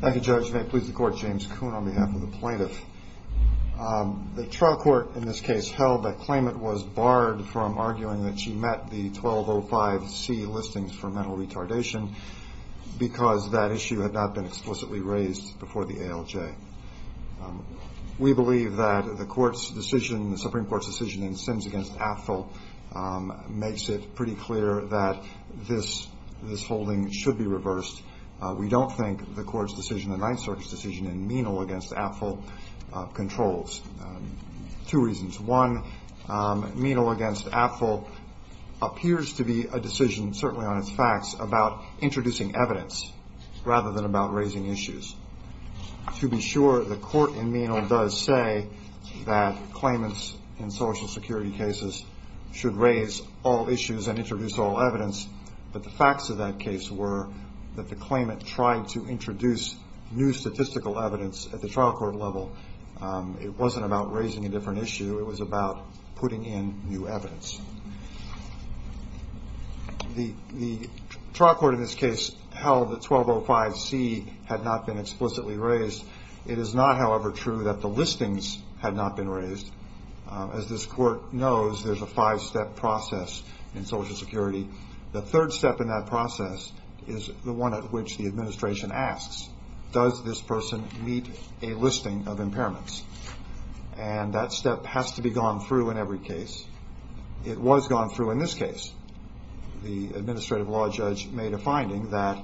Thank you Judge. May it please the Court, James Kuhn on behalf of the plaintiff. The trial court in this case held that claimant was barred from arguing that she met the 1205 C listings for mental retardation because that issue had not been explicitly raised before the ALJ. We believe that the Supreme Court's decision in Sims v. Apfel makes it pretty clear that this holding should be reversed. We don't think the Court's decision and Ninth Circuit's decision in Menal v. Apfel controls. Two reasons. One, Menal v. Apfel appears to be a decision, certainly on its facts, about introducing evidence rather than about raising issues. To be sure, the Court in Menal does say that claimants in Social Security cases should raise all issues and introduce all evidence, but the facts of that case were that the claimant tried to introduce new statistical evidence at the trial court level. It wasn't about raising a different issue. It was about putting in new evidence. The trial court in this case held that 1205 C had not been explicitly raised. It is not, however, true that the claimant tried to introduce a five-step process in Social Security. The third step in that process is the one at which the administration asks, does this person meet a listing of impairments? And that step has to be gone through in every case. It was gone through in this case. The administrative law judge made a finding that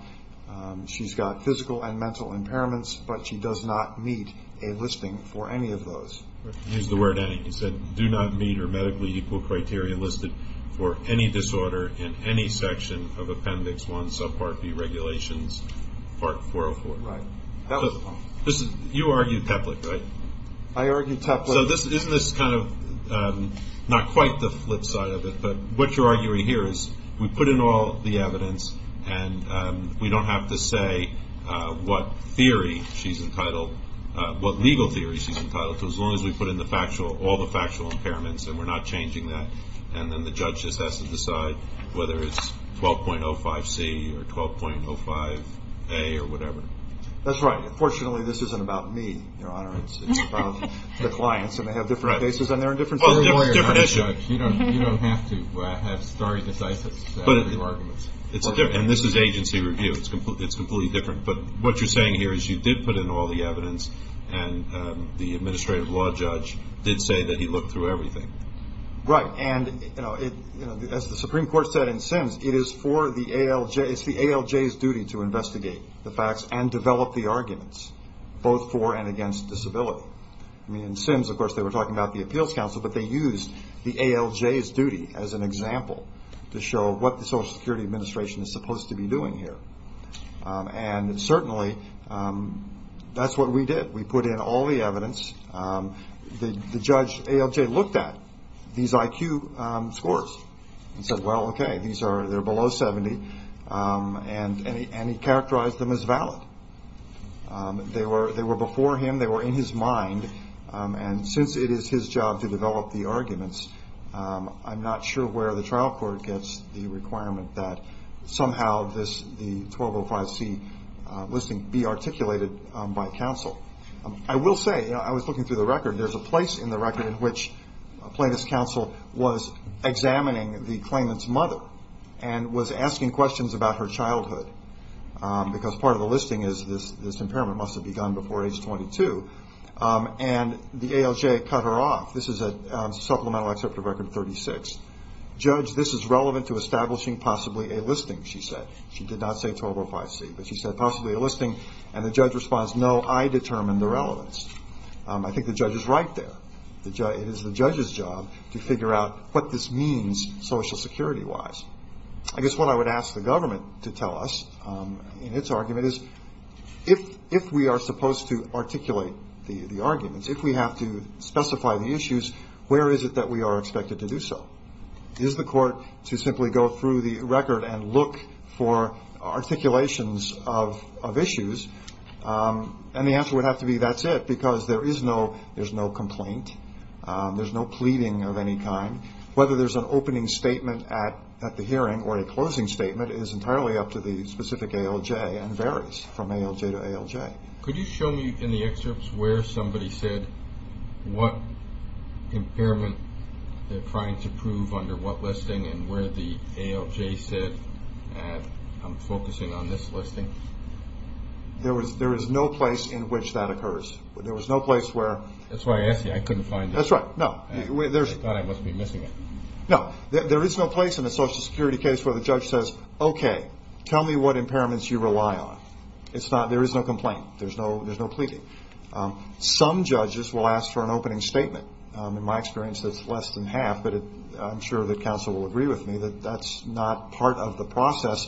she's got physical and mental impairments, but she does not meet a listing for any of those. I'll use the word any. He said, do not meet or medically equal criteria listed for any disorder in any section of Appendix 1, subpart B, Regulations, Part 404. Right. That was the point. You argued Teplik, right? I argued Teplik. So isn't this kind of not quite the flip side of it, but what you're arguing here is we put in all the evidence and we don't have to say what theory she's entitled, what legal theory she's entitled to, as long as we put in all the factual impairments and we're not changing that, and then the judge just has to decide whether it's 12.05C or 12.05A or whatever. That's right. Unfortunately, this isn't about me, Your Honor. It's about the clients, and they have different cases and they're in different states. Well, it's a different issue. You don't have to have starry, decisive arguments. And this is agency review. It's completely different. But what you're saying here is you did put in all the evidence and the administrative law judge did say that he looked through everything. Right. And as the Supreme Court said in Sims, it's the ALJ's duty to investigate the facts and develop the arguments, both for and against disability. In Sims, of course, they were talking about the Appeals Council, but they used the ALJ's duty as an example to show what the Social Security Administration is supposed to be doing here. And certainly, that's what we did. We put in all the evidence. The judge, ALJ, looked at these IQ scores and said, well, okay, they're below 70, and he characterized them as valid. They were before him. They were in his mind. And since it is his job to develop the arguments, I'm not sure where the trial court gets the requirement that somehow the 1205C listing be articulated by counsel. I will say, I was looking through the record. There's a place in the record in which plaintiff's counsel was examining the claimant's mother and was asking questions about her childhood. Because part of the listing is this impairment must have begun before age 22. And the ALJ cut her off. This is a supplemental excerpt of record 36. Judge, this is relevant to establishing possibly a listing, she said. She did not say 1205C, but she said possibly a listing. And the judge responds, no, I determined the relevance. I think the judge is right there. It is the judge's job to figure out what this means Social Security-wise. I guess what I would ask the government to tell us in its argument is, if we are supposed to articulate the arguments, if we have to specify the issues, where is it that we are supposed to go? Is the court to simply go through the record and look for articulations of issues? And the answer would have to be that's it, because there is no complaint. There's no pleading of any kind. Whether there's an opening statement at the hearing or a closing statement is entirely up to the specific ALJ and varies from ALJ to ALJ. Could you show me in the excerpts where somebody said what impairment they're trying to prove under what listing and where the ALJ said, I'm focusing on this listing? There is no place in which that occurs. There is no place where That's why I asked you. I couldn't find it. That's right. No. I thought I must be missing it. No. There is no place in a Social Security case where the judge says, okay, tell me what There's no pleading. Some judges will ask for an opening statement. In my experience, it's less than half, but I'm sure that counsel will agree with me that that's not part of the process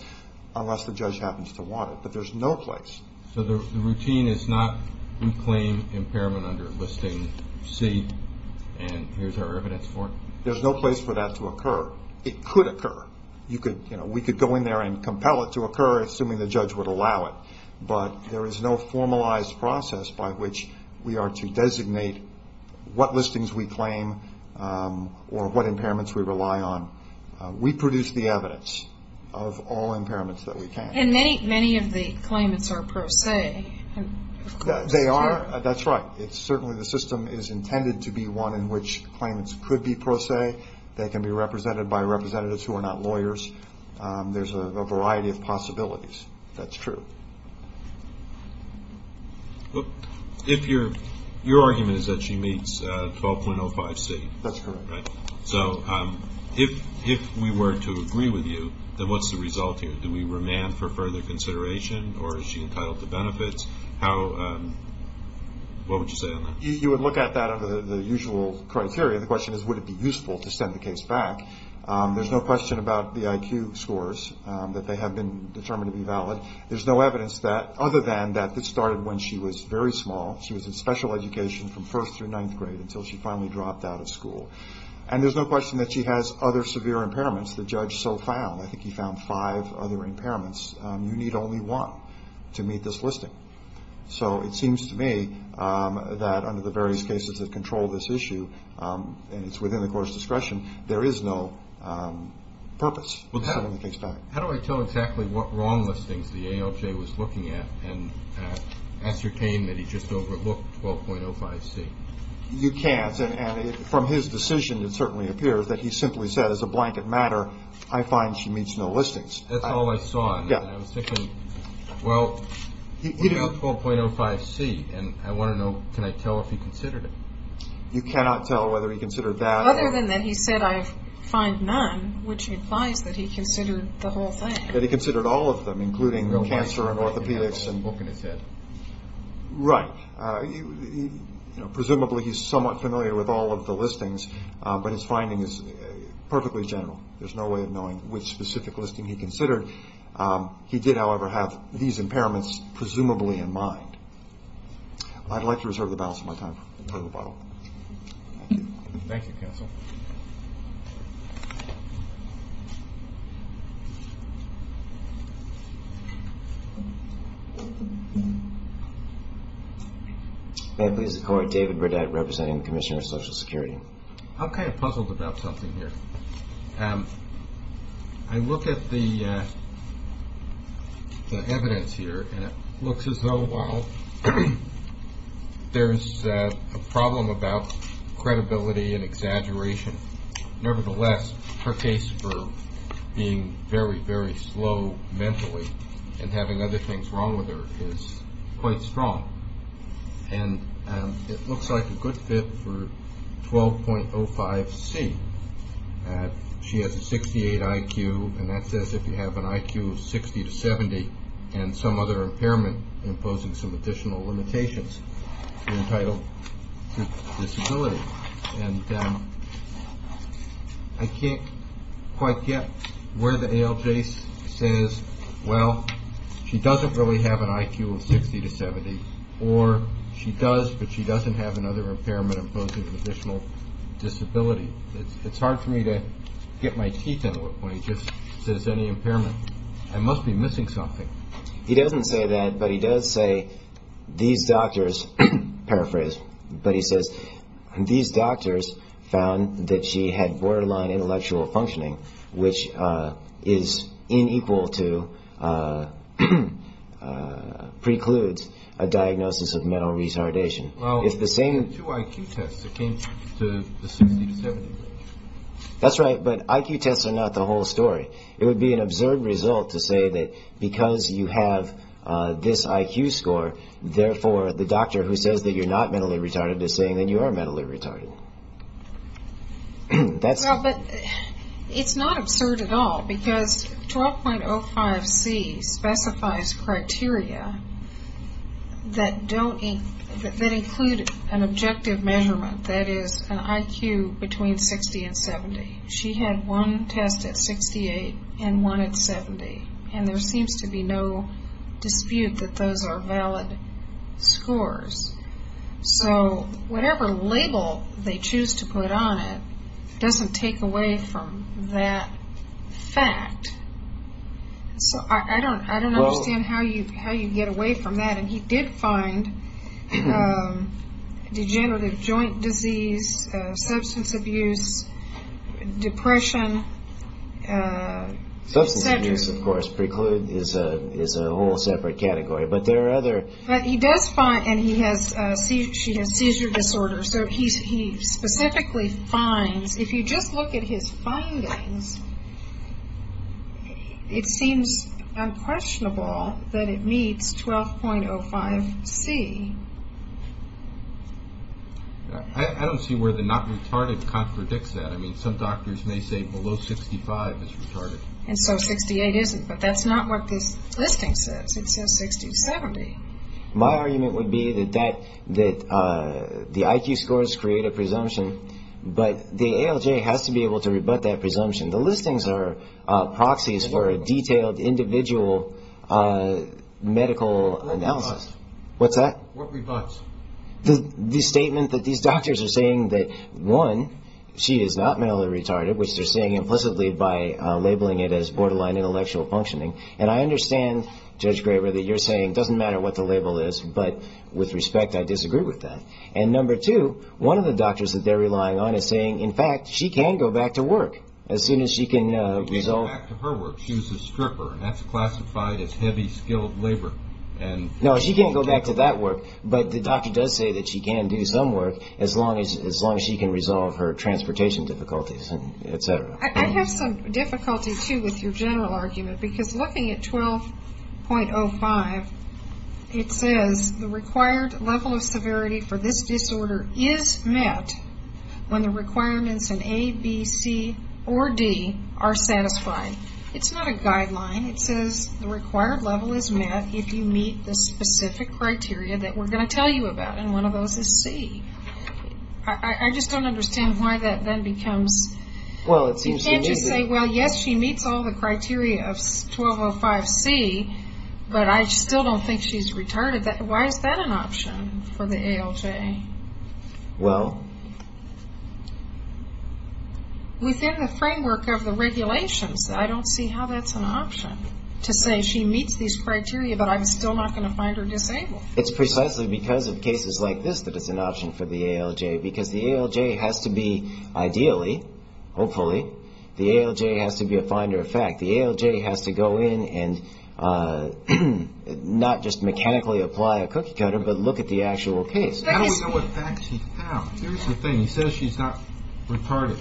unless the judge happens to want it. But there's no place. So the routine is not reclaim impairment under listing C and here's our evidence for it? There's no place for that to occur. It could occur. We could go in there and compel it to occur, assuming the judge would allow it, but there is no formalized process by which we are to designate what listings we claim or what impairments we rely on. We produce the evidence of all impairments that we can. And many of the claimants are pro se. They are. That's right. Certainly the system is intended to be one in which claimants could be pro se. They can be represented by representatives who are not lawyers. There's a variety of possibilities. That's true. Your argument is that she meets 12.05C. That's correct. So if we were to agree with you, then what's the result here? Do we remand for further consideration or is she entitled to benefits? What would you say on that? You would look at that under the usual criteria. The question is would it be useful to send the case back. There's no question about the IQ scores, that they have been determined to be valid. There's no evidence that, other than that this started when she was very small. She was in special education from first through ninth grade until she finally dropped out of school. And there's no question that she has other severe impairments. The judge so found. I think he found five other impairments. You need only one to meet this listing. So it seems to me that under the various cases that control this issue, and it's within the court's discretion, there is no purpose. How do I tell exactly what wrong listings the ALJ was looking at and ascertain that he just overlooked 12.05C? You can't. And from his decision, it certainly appears that he simply said as a blanket matter, I find she meets no listings. That's all I saw. Well, he found 12.05C, and I want to know, can I tell if he considered it? You cannot tell whether he considered that. Other than that he said I find none, which implies that he considered the whole thing. That he considered all of them, including cancer and orthopedics. Right. Presumably he's somewhat familiar with all of the listings, but his finding is perfectly general. There's no way of knowing which specific listing he considered. He did, however, have these impairments presumably in mind. I'd like to reserve the balance of my time for the rebuttal. Thank you. Thank you, counsel. May I please record David Burdette representing the Commissioner of Social Security. I'm kind of puzzled about something here. I look at the evidence here, and it looks as though, well, there's a problem about credibility and exaggeration. Nevertheless, her case for being very, very slow mentally and having other things wrong with her is quite strong. And it looks like a good fit for 12.05C. She has a 68 IQ, and that says if you have an IQ of 60 to 70 and some other impairment imposing some additional limitations, you're entitled to disability. And I can't quite get where the ALJ says, well, she doesn't really have an IQ of 60 to 70, or she does, but she doesn't have another impairment imposing additional disability. It's hard for me to get my teeth into it when he just says any impairment. I must be missing something. He doesn't say that, but he does say these doctors, paraphrase, but he says these doctors found that she had borderline intellectual functioning, which is inequal to, precludes a diagnosis of mental retardation. It's the same. Well, she had two IQ tests that came to the 60 to 70 range. That's right, but IQ tests are not the whole story. It would be an absurd result to say that because you have this IQ score, therefore the doctor who says that you're not mentally retarded is saying that you are mentally retarded. It's not absurd at all because 12.05c specifies criteria that include an objective measurement, that is, an IQ between 60 and 70. She had one test at 68 and one at 70, and there seems to be no dispute that those are valid scores. So whatever label they choose to put on it doesn't take away from that fact. So I don't understand how you get away from that, and he did find degenerative joint disease, substance abuse, depression, etc. Substance abuse, of course, preclude, is a whole separate category, but there are other. But he does find, and she has seizure disorder, so he specifically finds, if you just look at his findings, it seems unquestionable that it meets 12.05c. I don't see where the not retarded contradicts that. I mean, some doctors may say below 65 is retarded. And so 68 isn't, but that's not what this listing says. It says 60 to 70. My argument would be that the IQ scores create a presumption, but the ALJ has to be able to rebut that presumption. The listings are proxies for a detailed individual medical analysis. What's that? What rebuts? The statement that these doctors are saying that, one, she is not mentally retarded, which they're saying implicitly by labeling it as borderline intellectual functioning. And I understand, Judge Graber, that you're saying it doesn't matter what the label is, but with respect, I disagree with that. And number two, one of the doctors that they're relying on is saying, in fact, she can go back to work as soon as she can resolve. She can go back to her work. She was a stripper, and that's classified as heavy skilled labor. No, she can't go back to that work, but the doctor does say that she can do some work as long as she can resolve her transportation difficulties, etc. I have some difficulty, too, with your general argument, because looking at 12.05, it says the required level of severity for this disorder is met when the requirements in A, B, C, or D are satisfied. It's not a guideline. It says the required level is met if you meet the specific criteria that we're going to tell you about, and one of those is C. I just don't understand why that then becomes. Well, it seems to me that. You can't just say, well, yes, she meets all the criteria of 12.05C, but I still don't think she's retarded. Why is that an option for the ALJ? Well. Within the framework of the regulations, I don't see how that's an option to say she meets these criteria, but I'm still not going to find her disabled. It's precisely because of cases like this that it's an option for the ALJ, because the ALJ has to be ideally, hopefully, the ALJ has to be a finder of fact. The ALJ has to go in and not just mechanically apply a cookie cutter, but look at the actual case. I don't know what facts he found. Here's the thing. He says she's not retarded.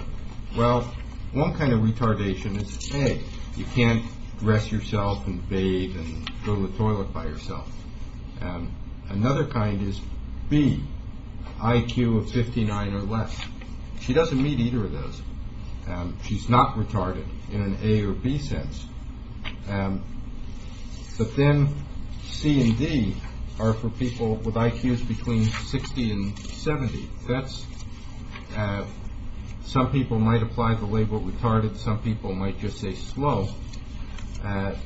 Well, one kind of retardation is, A, you can't dress yourself and bathe and go to the toilet by yourself. Another kind is, B, IQ of 59 or less. She doesn't meet either of those. She's not retarded in an A or B sense. But then C and D are for people with IQs between 60 and 70. Some people might apply the label retarded. Some people might just say slow. But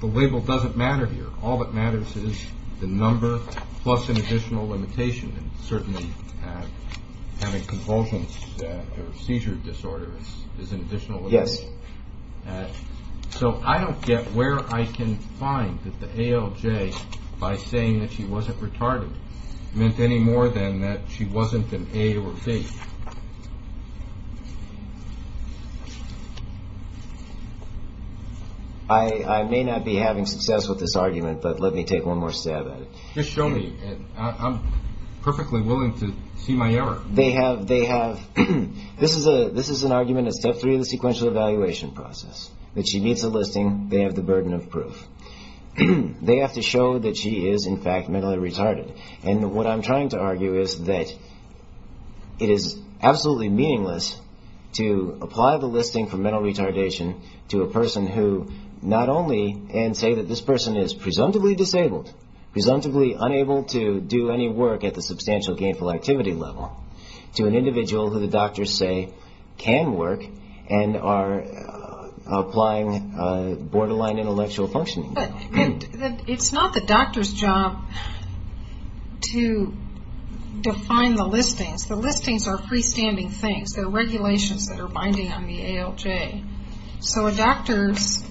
the label doesn't matter here. All that matters is the number plus an additional limitation, and certainly having convulsions or seizure disorder is an additional limitation. Yes. So I don't get where I can find that the ALJ, by saying that she wasn't retarded, meant any more than that she wasn't an A or B. I may not be having success with this argument, but let me take one more stab at it. Just show me. I'm perfectly willing to see my error. They have ‑‑ this is an argument at step three of the sequential evaluation process, that she meets the listing, they have the burden of proof. They have to show that she is, in fact, mentally retarded. And what I'm trying to argue is that it is absolutely meaningless to apply the listing for mental retardation to a person who not only, and say that this person is presumptively disabled, presumptively unable to do any work at the substantial gainful activity level, to an individual who the doctors say can work and are applying borderline intellectual functioning. But it's not the doctor's job to define the listings. The listings are freestanding things. They're regulations that are binding on the ALJ. So a doctor's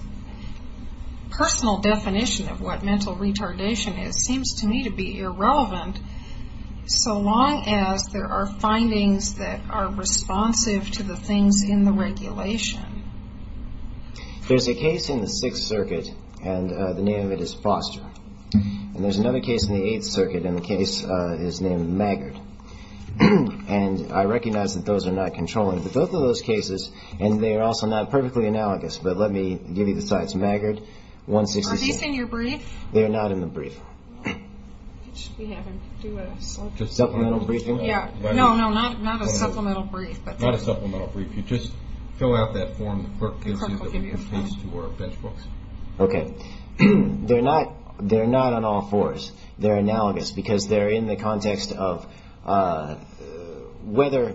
personal definition of what mental retardation is seems to me to be irrelevant, so long as there are findings that are responsive to the things in the regulation. There's a case in the Sixth Circuit, and the name of it is Foster. And there's another case in the Eighth Circuit, and the case is named Maggard. And I recognize that those are not controlling. But both of those cases, and they are also not perfectly analogous, but let me give you the sites, Maggard, 166. Are these in your brief? They are not in the brief. We should be having to do a supplemental briefing. No, no, not a supplemental brief. Not a supplemental brief. You just fill out that form that the clerk gives you that we can paste to our bench books. Okay. They're not on all fours. They're analogous because they're in the context of whether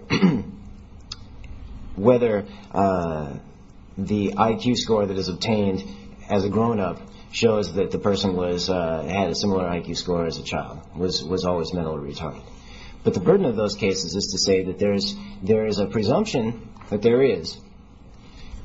the IQ score that is obtained as a grown-up shows that the person had a similar IQ score as a child, was always mentally retarded. But the burden of those cases is to say that there is a presumption that there is.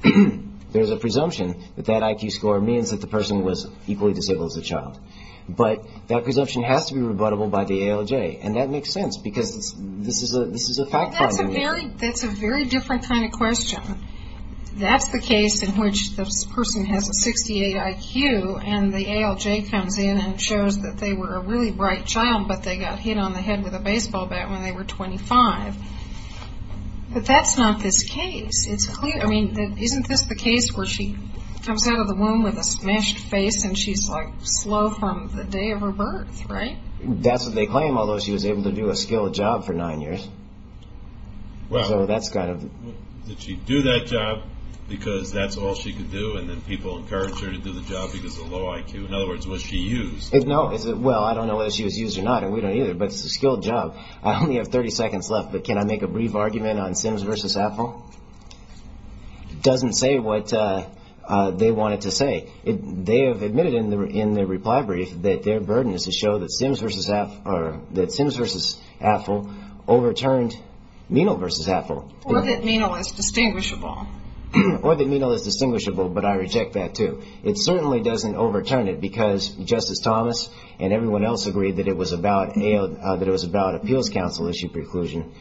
There is a presumption that that IQ score means that the person was equally disabled as a child. But that presumption has to be rebuttable by the ALJ. And that makes sense because this is a fact finding. That's a very different kind of question. That's the case in which the person has a 68 IQ, and the ALJ comes in and shows that they were a really bright child, but they got hit on the head with a baseball bat when they were 25. But that's not this case. I mean, isn't this the case where she comes out of the womb with a smashed face and she's, like, slow from the day of her birth, right? That's what they claim, although she was able to do a skilled job for nine years. Wow. So that's kind of... Did she do that job because that's all she could do, and then people encouraged her to do the job because of low IQ? In other words, was she used? No. Well, I don't know whether she was used or not, and we don't either, but it's a skilled job. I only have 30 seconds left, but can I make a brief argument on Sims v. Affle? It doesn't say what they want it to say. They have admitted in their reply brief that their burden is to show that Sims v. Affle overturned Menal v. Affle. Or that Menal is distinguishable. Or that Menal is distinguishable, but I reject that, too. It certainly doesn't overturn it because Justice Thomas and everyone else agreed that it was a valid appeals counsel issue preclusion.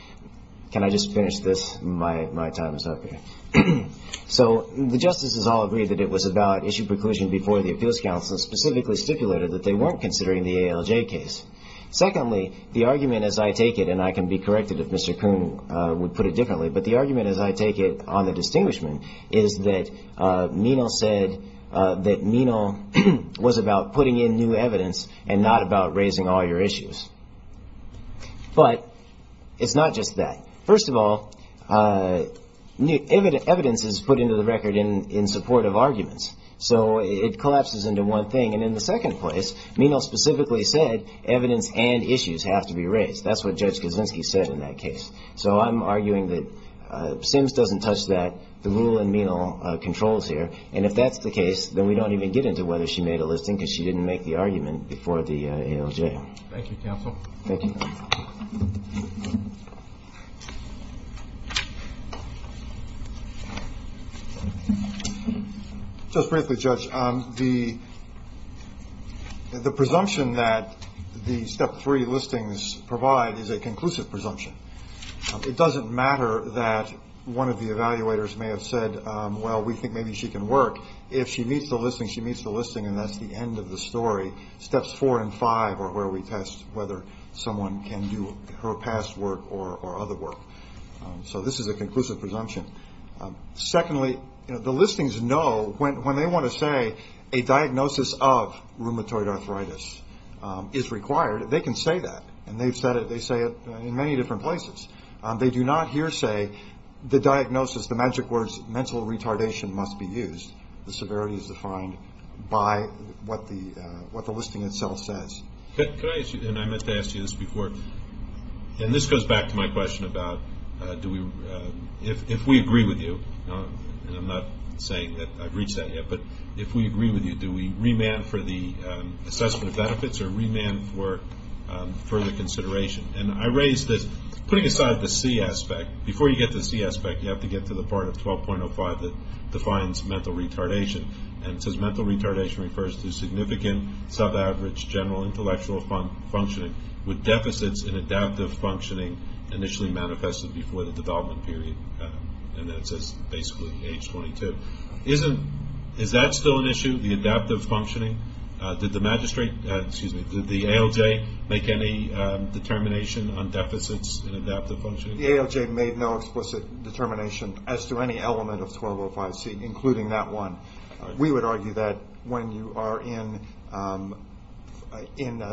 Can I just finish this? My time is up here. So the justices all agreed that it was a valid issue preclusion before the appeals counsel specifically stipulated that they weren't considering the ALJ case. Secondly, the argument, as I take it, and I can be corrected if Mr. Kuhn would put it differently, but the argument, as I take it, on the distinguishment is that Menal said that Menal was about putting in new evidence and not about raising all your issues. But it's not just that. First of all, evidence is put into the record in support of arguments. So it collapses into one thing. And in the second place, Menal specifically said evidence and issues have to be raised. That's what Judge Kuczynski said in that case. So I'm arguing that Sims doesn't touch that. The rule in Menal controls here. And if that's the case, then we don't even get into whether she made a listing because she didn't make the argument before the ALJ. Thank you, counsel. Thank you. Just briefly, Judge, the presumption that the Step 3 listings provide is a conclusive presumption. It doesn't matter that one of the evaluators may have said, well, we think maybe she can work. If she meets the listing, she meets the listing, and that's the end of the story. Steps 4 and 5 are where we test whether someone can do her past work or other work. So this is a conclusive presumption. Secondly, the listings know when they want to say a diagnosis of rheumatoid arthritis is required, they can say that. And they say it in many different places. They do not here say the diagnosis, the magic words, mental retardation must be used. The severity is defined by what the listing itself says. Could I ask you, and I meant to ask you this before, and this goes back to my question about if we agree with you, and I'm not saying that I've reached that yet, but if we agree with you, do we remand for the assessment of benefits or remand for further consideration? And I raise this, putting aside the C aspect, before you get to the C aspect, you have to get to the part of 12.05 that defines mental retardation. And it says mental retardation refers to significant, sub-average, general intellectual functioning with deficits in adaptive functioning initially manifested before the development period. And then it says basically age 22. Is that still an issue, the adaptive functioning? Did the magistrate, excuse me, did the ALJ make any determination on deficits in adaptive functioning? The ALJ made no explicit determination as to any element of 12.05C, including that one. We would argue that when you are in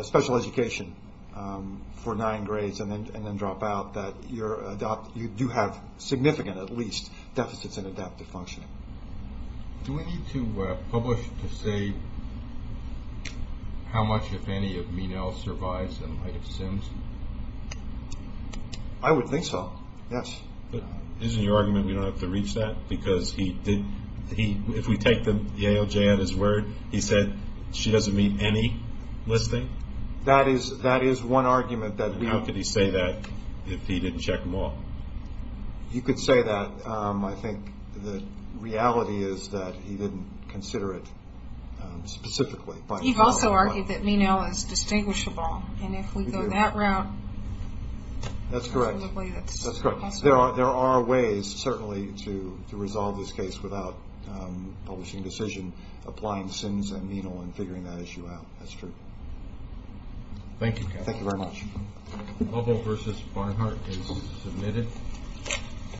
special education for nine grades and then drop out, that you do have significant, at least, deficits in adaptive functioning. Do we need to publish to say how much, if any, of Menel survives and might have since? I would think so, yes. Isn't your argument we don't have to reach that? Because if we take the ALJ at his word, he said she doesn't meet any listing? That is one argument. How could he say that if he didn't check them all? You could say that. I think the reality is that he didn't consider it specifically. You've also argued that Menel is distinguishable, and if we go that route, that's correct. There are ways, certainly, to resolve this case without publishing decision, applying Sins and Menel and figuring that issue out. That's true. Thank you, Kevin. Thank you very much. Lovell v. Barnhart is submitted.